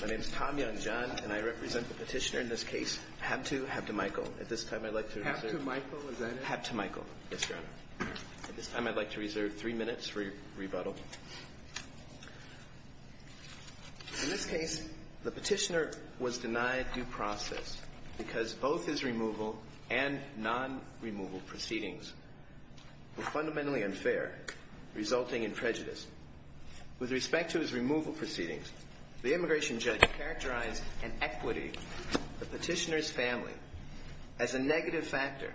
My name is Tom Young John, and I represent the petitioner in this case, Haptemicael. At this time, I'd like to reserve three minutes for your rebuttal. In this case, the petitioner was denied due process because both his removal and non-removal proceedings were fundamentally unfair, resulting in prejudice. With respect to his removal proceedings, the immigration judge characterized an equity, the petitioner's family, as a negative factor,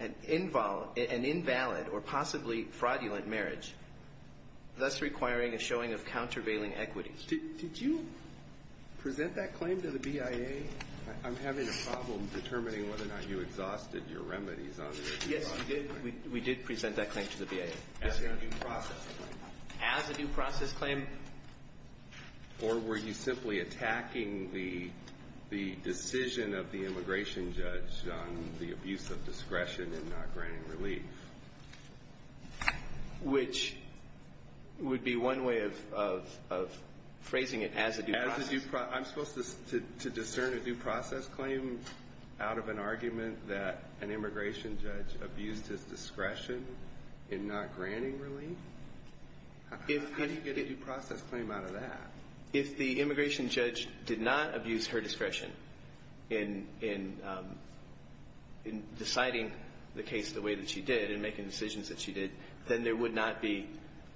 an invalid or possibly fraudulent marriage, thus requiring a showing of countervailing equity. Did you present that claim to the BIA? I'm having a problem determining whether or not you exhausted your remedies on it. Yes, we did present that claim to the BIA. As a due process claim? As a due process claim. Or were you simply attacking the decision of the immigration judge on the abuse of discretion in not granting relief? Which would be one way of phrasing it, as a due process. I'm supposed to discern a due process claim out of an argument that an immigration judge abused his discretion in not granting relief? How do you get a due process claim out of that? If the immigration judge did not abuse her discretion in deciding the case the way that she did and making decisions that she did, then there would not be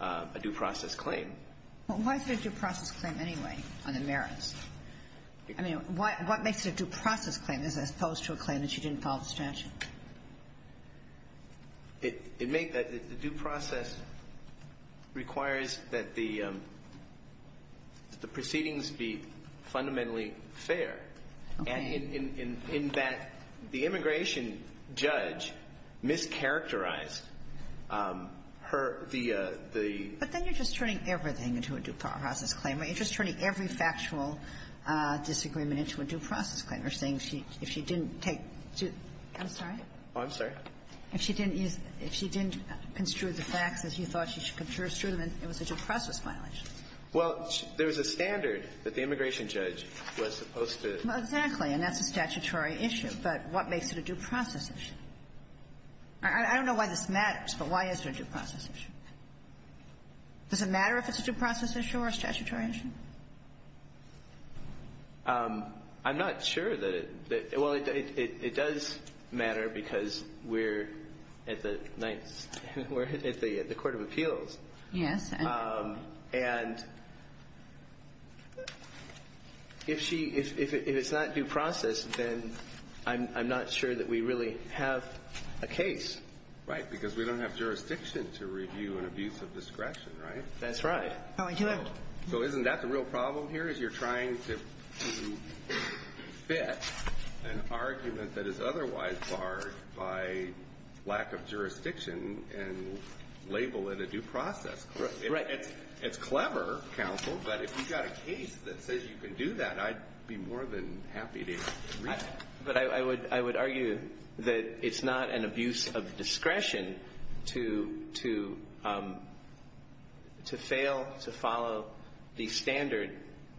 a due process claim. Well, why is there a due process claim anyway on the merits? I mean, what makes it a due process claim as opposed to a claim that she didn't follow the statute? The due process requires that the proceedings be fundamentally fair. Okay. And in that, the immigration judge mischaracterized her, the – But then you're just turning everything into a due process claim, right? You're just turning every factual disagreement into a due process claim. You're saying if she didn't take due – I'm sorry? Oh, I'm sorry? If she didn't use – if she didn't construe the facts as you thought she should construe them, it was a due process violation. Well, there's a standard that the immigration judge was supposed to – Well, exactly. And that's a statutory issue. But what makes it a due process issue? I don't know why this matters, but why is there a due process issue? Does it matter if it's a due process issue or a statutory issue? I'm not sure that it – well, it does matter because we're at the court of appeals. Yes. And if she – if it's not due process, then I'm not sure that we really have a case. Right, because we don't have jurisdiction to review an abuse of discretion, right? That's right. So isn't that the real problem here is you're trying to fit an argument that is otherwise barred by lack of jurisdiction and label it a due process claim. Right. It's clever, counsel, but if you've got a case that says you can do that, I'd be more than happy to read it. But I would argue that it's not an abuse of discretion to fail to follow the standard,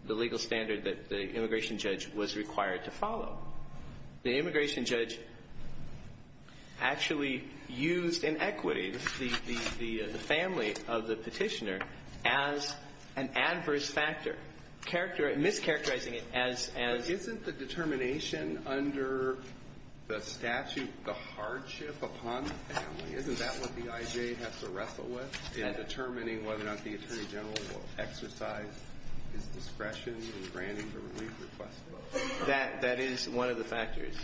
the legal standard that the immigration judge was required to follow. The immigration judge actually used inequity, the family of the petitioner, as an adverse factor, mischaracterizing it as – But isn't the determination under the statute the hardship upon the family? Isn't that what the IJ has to wrestle with in determining whether or not the attorney general will exercise his discretion in granting the relief request? That is one of the factors.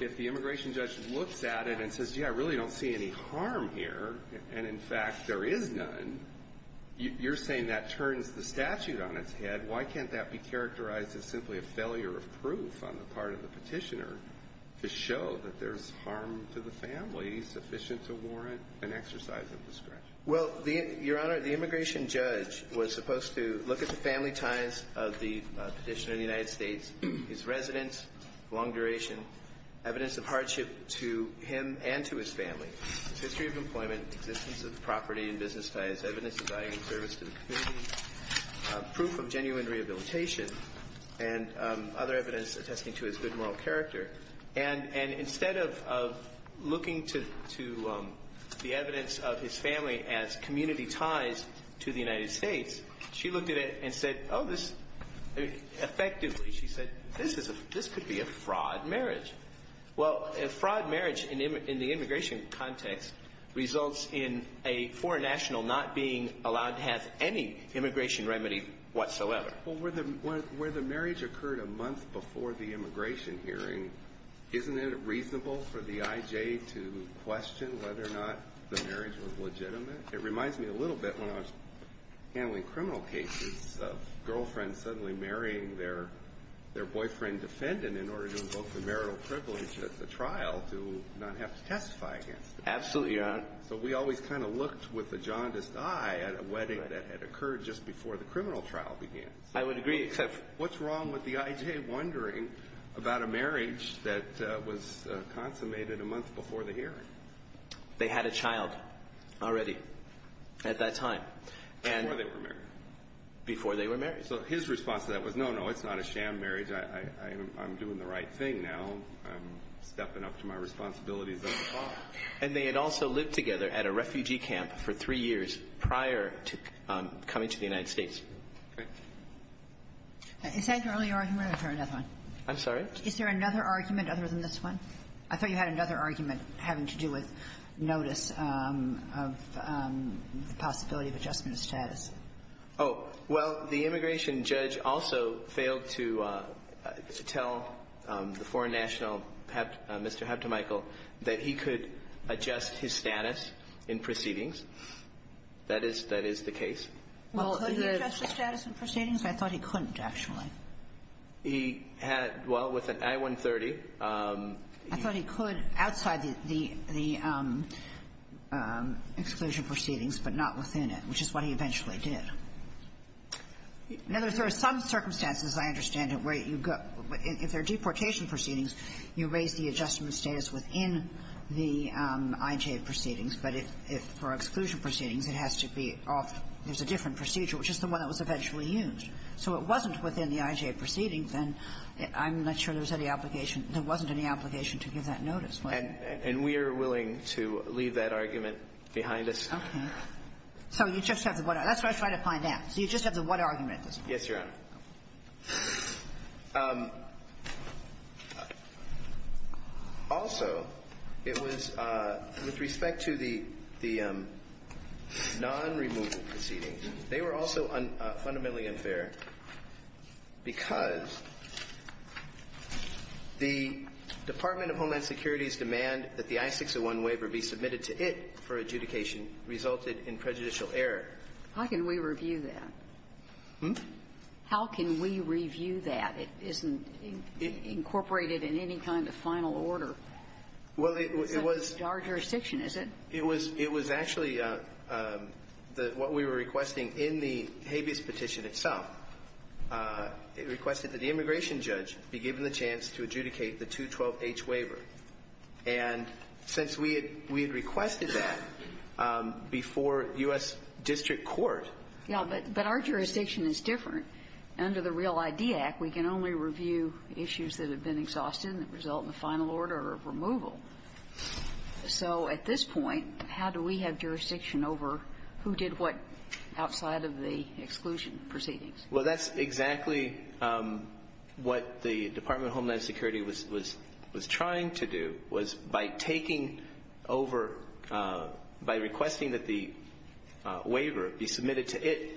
If the immigration judge looks at it and says, yeah, I really don't see any harm here, and in fact there is none, you're saying that turns the statute on its head. Why can't that be characterized as simply a failure of proof on the part of the petitioner to show that there's harm to the family sufficient to warrant an exercise of discretion? Well, Your Honor, the immigration judge was supposed to look at the family ties of the petitioner in the United States, his residence, long duration, evidence of hardship to him and to his family, his history of employment, existence of property and business ties, evidence of value and service to the community, proof of genuine rehabilitation, and other evidence attesting to his good moral character. And instead of looking to the evidence of his family as community ties to the United States, she looked at it and said, oh, this – effectively, she said, this could be a fraud marriage. Well, a fraud marriage in the immigration context results in a foreign national not being allowed to have any immigration remedy whatsoever. Well, where the marriage occurred a month before the immigration hearing, isn't it reasonable for the IJ to question whether or not the marriage was legitimate? It reminds me a little bit when I was handling criminal cases of girlfriends suddenly marrying their boyfriend defendant in order to invoke the marital privilege at the trial to not have to testify against them. Absolutely, Your Honor. So we always kind of looked with a jaundiced eye at a wedding that had occurred just before the criminal trial began. I would agree, except – What's wrong with the IJ wondering about a marriage that was consummated a month before the hearing? They had a child already at that time. Before they were married. Before they were married. So his response to that was, no, no, it's not a sham marriage. I'm doing the right thing now. I'm stepping up to my responsibilities as a father. And they had also lived together at a refugee camp for three years prior to coming to the United States. Is that your only argument or is there another one? I'm sorry? Is there another argument other than this one? I thought you had another argument having to do with notice of the possibility of adjustment of status. Oh. Well, the immigration judge also failed to tell the foreign national, Mr. Hab-to-Michael, that he could adjust his status in proceedings. That is the case. Well, could he adjust his status in proceedings? I thought he couldn't, actually. He had – well, with an I-130. I thought he could outside the exclusion proceedings, but not within it, which is what he eventually did. In other words, there are some circumstances, as I understand it, where you go – if there are deportation proceedings, you raise the adjustment status within the IJA proceedings. But for exclusion proceedings, it has to be off – there's a different procedure, which is the one that was eventually used. So it wasn't within the IJA proceedings, and I'm not sure there was any obligation – there wasn't any obligation to give that notice, was there? And we are willing to leave that argument behind us. Okay. So you just have the one – that's what I'm trying to find out. So you just have the one argument at this point. Yes, Your Honor. Also, it was – with respect to the non-removal proceedings, they were also fundamentally unfair because the Department of Homeland Security's demand that the I-601 waiver be submitted to it for adjudication resulted in prejudicial error. How can we review that? Hmm? How can we review that? It isn't incorporated in any kind of final order. Well, it was – It's not in our jurisdiction, is it? It was – it was actually the – what we were requesting in the habeas petition itself. It requested that the immigration judge be given the chance to adjudicate the 212-H waiver. And since we had – we had requested that before U.S. district court – Yeah, but – but our jurisdiction is different. Under the Real ID Act, we can only review issues that have been exhausted and that result in a final order of removal. So at this point, how do we have jurisdiction over who did what outside of the exclusion proceedings? Well, that's exactly what the Department of Homeland Security was – was trying to do, was by taking over – by requesting that the waiver be submitted to it,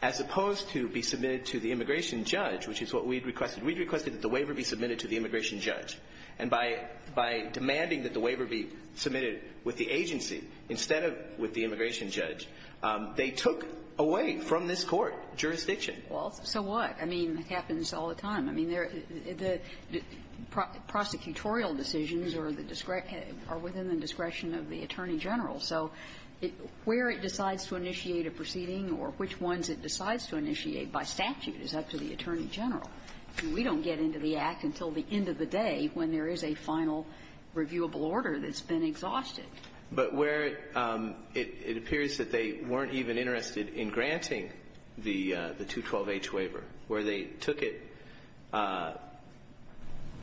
as opposed to be submitted to the immigration judge, which is what we had requested. We had requested that the waiver be submitted to the immigration judge. And by – by demanding that the waiver be submitted with the agency instead of with the immigration judge, they took away from this Court jurisdiction. Well, so what? I mean, it happens all the time. I mean, there – the prosecutorial decisions are the – are within the discretion of the attorney general. So where it decides to initiate a proceeding or which ones it decides to initiate by statute is up to the attorney general. We don't get into the Act until the end of the day when there is a final reviewable order that's been exhausted. But where it appears that they weren't even interested in granting the – the 212H waiver, where they took it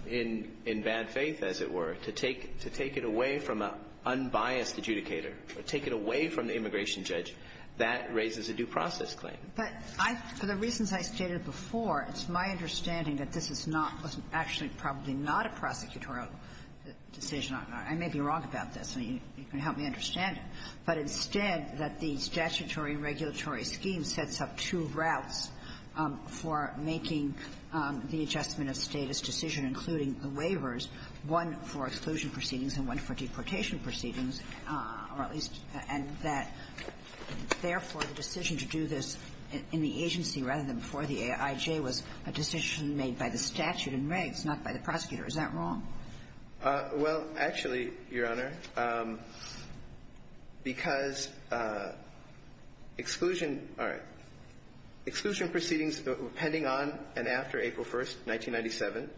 in – in bad faith, as it were, to take – to take it away from an unbiased adjudicator, to take it away from the immigration judge, that raises a due process claim. But I – for the reasons I stated before, it's my understanding that this is not – was actually probably not a prosecutorial decision. I may be wrong about this, and you can help me understand it. But instead, that the statutory and regulatory scheme sets up two routes for making the adjustment of status decision, including the waivers, one for exclusion proceedings and one for deportation proceedings, or at least – and that, therefore, the decision to do this in the agency, rather than before the AIJ, was a decision made by the statute and regs, not by the prosecutor. Is that wrong? Well, actually, Your Honor, because exclusion – all right. Exclusion proceedings pending on and after April 1st, 1997,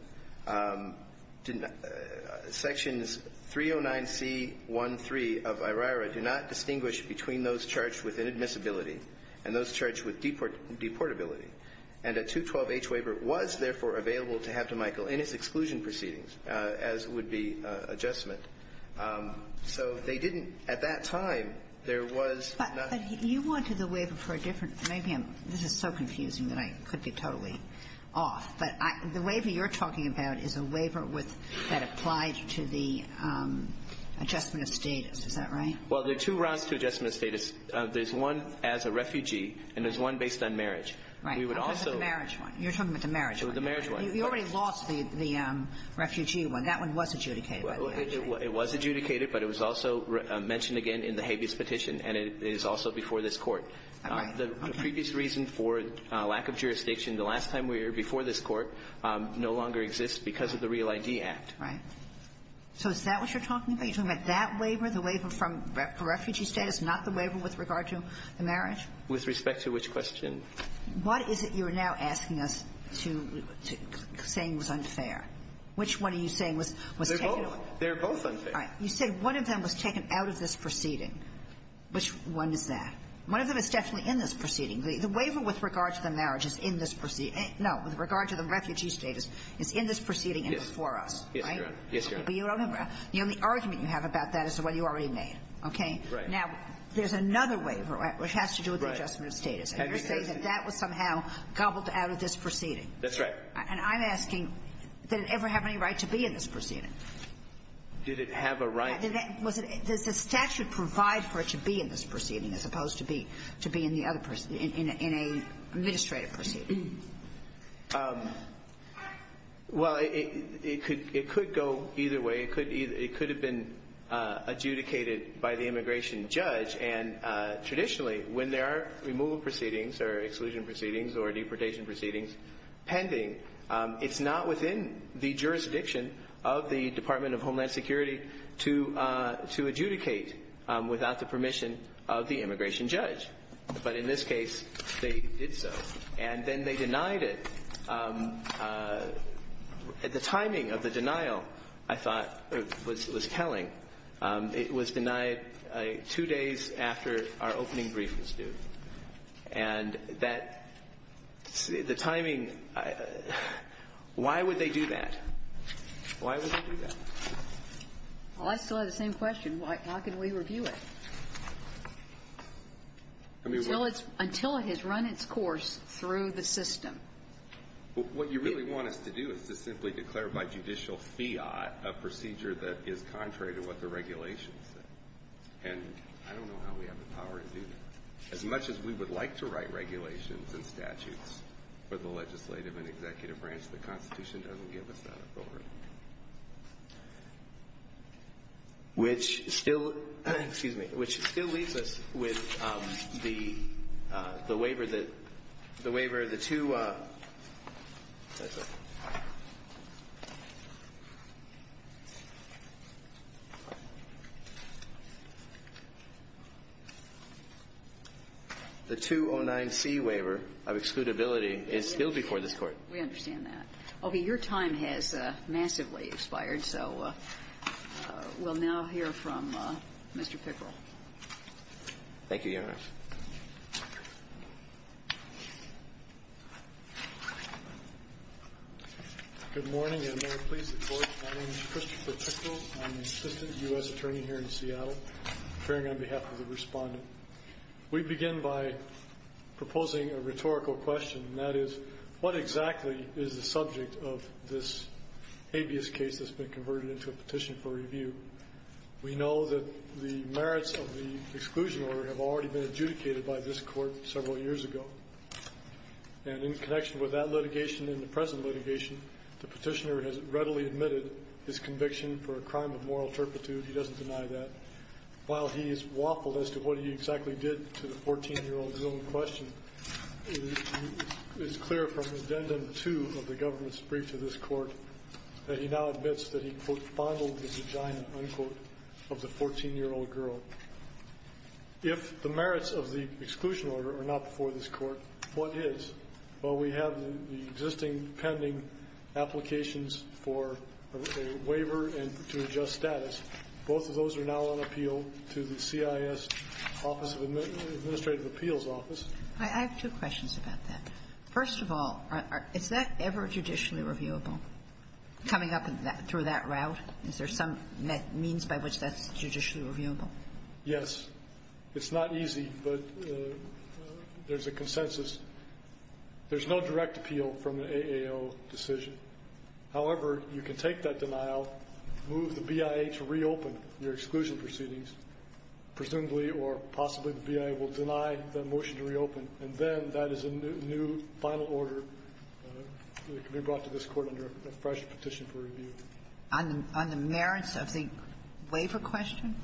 did not – sections 309C.1.3 of IRIRA do not distinguish between those charged with inadmissibility and those charged with deportability. And a 212H waiver was, therefore, available to have to Michael in his exclusion proceedings, as would be adjustment. So they didn't – at that time, there was not – But you wanted the waiver for a different – maybe I'm – this is so confusing that I could be totally off, but I – the waiver you're talking about is a waiver with – that applied to the adjustment of status. Is that right? Well, there are two rounds to adjustment of status. There's one as a refugee, and there's one based on marriage. We would also – Right. I'm talking about the marriage one. You're talking about the marriage one. The marriage one. You already lost the refugee one. That one was adjudicated, by the way. It was adjudicated, but it was also mentioned again in the habeas petition, and it is also before this Court. All right. Okay. The previous reason for lack of jurisdiction, the last time we were here, before this Court, no longer exists because of the Real ID Act. Right. So is that what you're talking about? You're talking about that waiver, the waiver from refugee status, not the waiver with regard to the marriage? With respect to which question? What is it you're now asking us to – saying was unfair? Which one are you saying was taken away? They're both unfair. All right. You said one of them was taken out of this proceeding. Which one is that? One of them is definitely in this proceeding. The waiver with regard to the marriage is in this proceeding. No. With regard to the refugee status, it's in this proceeding and before us. Right? Yes, Your Honor. Yes, Your Honor. But you don't have a – the only argument you have about that is the one you already made. Okay? Right. Now, there's another waiver, which has to do with the adjustment of status. And you're saying that that was somehow gobbled out of this proceeding. That's right. And I'm asking, did it ever have any right to be in this proceeding? Did it have a right? Was it – does the statute provide for it to be in this proceeding as opposed to be in the other – in an administrative proceeding? Well, it could go either way. It could have been adjudicated by the immigration judge. And traditionally, when there are removal proceedings or exclusion proceedings or deportation proceedings pending, it's not within the jurisdiction of the Department of Homeland Security to adjudicate without the permission of the immigration judge. But in this case, they did so. And then they denied it. The timing of the denial, I thought, was telling. It was denied two days after our opening brief was due. And that – the timing – why would they do that? Why would they do that? Well, I still have the same question. Why – how can we review it? Until it's – until it has run its course through the system. What you really want us to do is to simply declare by judicial fiat a procedure that is contrary to what the regulations say. And I don't know how we have the power to do that. As much as we would like to write regulations and statutes for the legislative and executive branch, the Constitution doesn't give us that authority. Which still – excuse me – which still leaves us with the waiver that – the waiver of the two – the 209C waiver of excludability is still before this Court. We understand that. Okay. Your time has massively expired, so we'll now hear from Mr. Pickrell. Thank you, Your Honor. Good morning, and may it please the Court, my name is Christopher Pickrell. I'm the assistant U.S. attorney here in Seattle, appearing on behalf of the respondent. We begin by proposing a rhetorical question, and that is, what exactly is the subject of this habeas case that's been converted into a petition for review? We know that the merits of the exclusion order have already been adjudicated by this Court several years ago. And in connection with that litigation and the present litigation, the petitioner has readily admitted his conviction for a crime of moral turpitude. He doesn't deny that. While he is waffled as to what he exactly did to the 14-year-old's own question, it is clear from Addendum 2 of the government's brief to this Court that he now admits that he, quote, fondled the vagina, unquote, of the 14-year-old girl. If the merits of the exclusion order are not before this Court, what is? Well, we have the existing pending applications for a waiver and to adjust status. Both of those are now on appeal to the CIS Office of Administrative Appeals Office. I have two questions about that. First of all, is that ever judicially reviewable, coming up through that route? Is there some means by which that's judicially reviewable? Yes. It's not easy, but there's a consensus. There's no direct appeal from the AAO decision. However, you can take that denial, move the BIA to reopen your exclusion proceedings, presumably or possibly the BIA will deny the motion to reopen, and then that is a new final order that can be brought to this Court under a fresh petition for review. On the merits of the waiver question?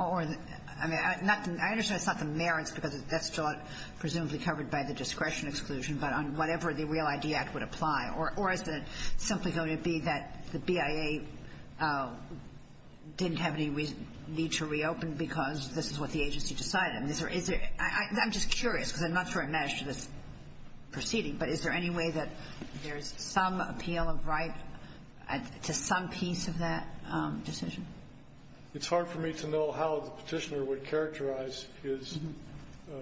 I mean, I understand it's not the merits because that's presumably covered by the discretion exclusion, but on whatever the Real ID Act would apply. Or is it simply going to be that the BIA didn't have any need to reopen because this is what the agency decided? I'm just curious, because I'm not sure I've managed this proceeding, but is there any way that there's some appeal of right to some piece of that decision? It's hard for me to know how the Petitioner would characterize his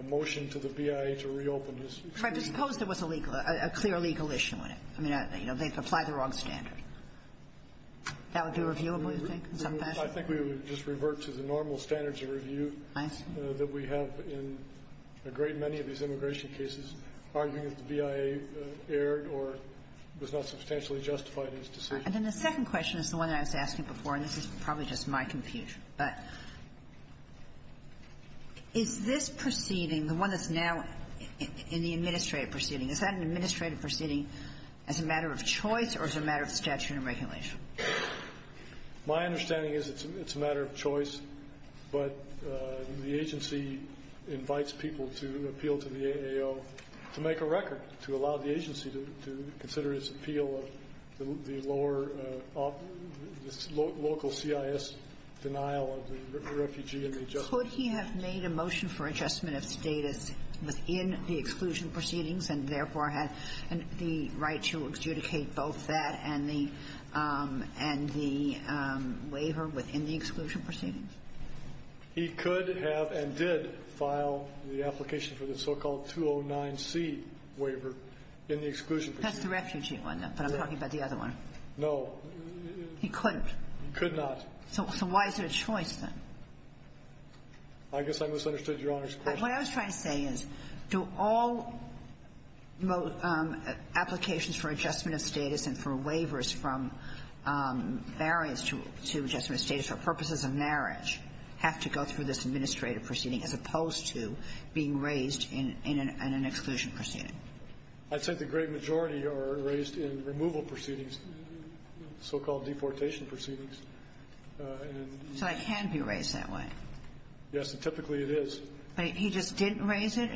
motion to the BIA to reopen his exclusion. But suppose there was a legal, a clear legal issue in it. I mean, you know, they've applied the wrong standard. That would be reviewable, you think, in some fashion? I think we would just revert to the normal standards of review that we have in a great many of these immigration cases, arguing that the BIA erred or was not substantially justified in its decision. And then the second question is the one I was asking before, and this is probably just my confusion. But is this proceeding, the one that's now in the administrative proceeding, is that an administrative proceeding as a matter of choice or as a matter of statute and regulation? My understanding is it's a matter of choice, but the agency invites people to appeal to the AAO to make a record, to allow the agency to consider its appeal of the lower level of the local CIS denial of the refugee and the adjustment. Could he have made a motion for adjustment of status within the exclusion proceedings and therefore had the right to adjudicate both that and the waiver within the exclusion proceedings? He could have and did file the application for the so-called 209C waiver in the exclusion proceeding. That's the refugee one, though, but I'm talking about the other one. No. He couldn't. He could not. So why is it a choice, then? I guess I misunderstood Your Honor's question. What I was trying to say is, do all applications for adjustment of status and for waivers from variance to adjustment of status for purposes of marriage have to go through this administrative proceeding as opposed to being raised in an exclusion proceeding? I'd say the great majority are raised in removal proceedings, so-called deportation proceedings. So they can be raised that way? Yes, and typically it is. But he just didn't raise it?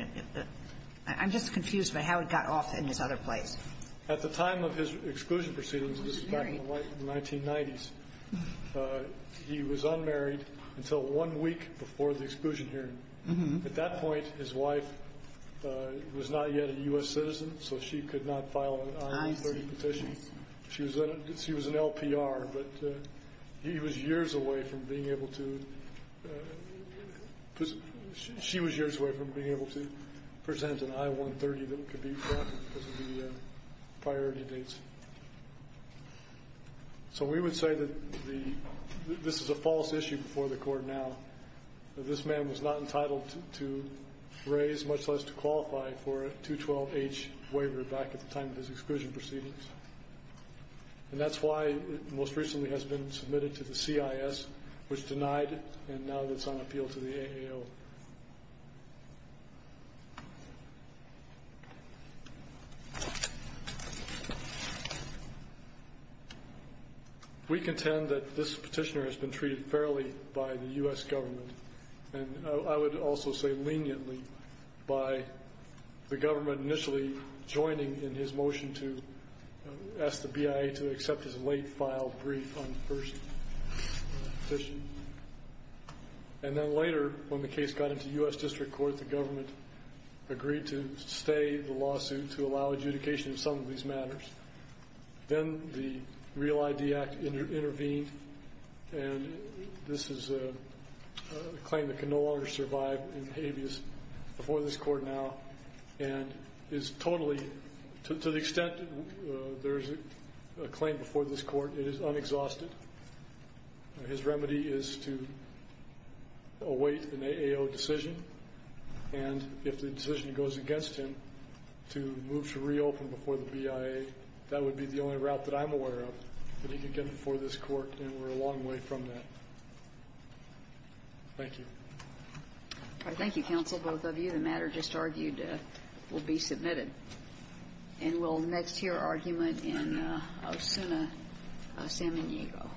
I'm just confused by how it got off in his other place. At the time of his exclusion proceedings, this was back in the 1990s, he was unmarried until one week before the exclusion hearing. At that point, his wife was not yet a U.S. citizen, so she could not file an I-130 petition. She was an LPR, but she was years away from being able to present an I-130 that could be drafted because of the priority dates. So we would say that this is a false issue before the Court now. This man was not entitled to raise, much less to qualify for a 212H waiver back at the time of his exclusion proceedings. And that's why it most recently has been submitted to the CIS, which denied it, and now it's on appeal to the AAO. We contend that this petitioner has been treated fairly by the U.S. government, and I would also say leniently by the government initially joining in his motion to ask the BIA to accept his late file brief on the first petition. And then later, when the case got into U.S. District Court, the government agreed to stay the lawsuit to allow adjudication in some of these matters. Then the REAL ID Act intervened, and this is a claim that can no longer survive in habeas before this Court now, and is totally, to the extent there is a claim before this Court, it is unexhausted. His remedy is to await an AAO decision, and if the decision goes against him, to move to reopen before the BIA. That would be the only route that I'm aware of that he could get before this Court, and we're a long way from that. Thank you. Thank you, counsel, both of you. The matter just argued will be submitted. And we'll next hear argument in Osuna Samaniego.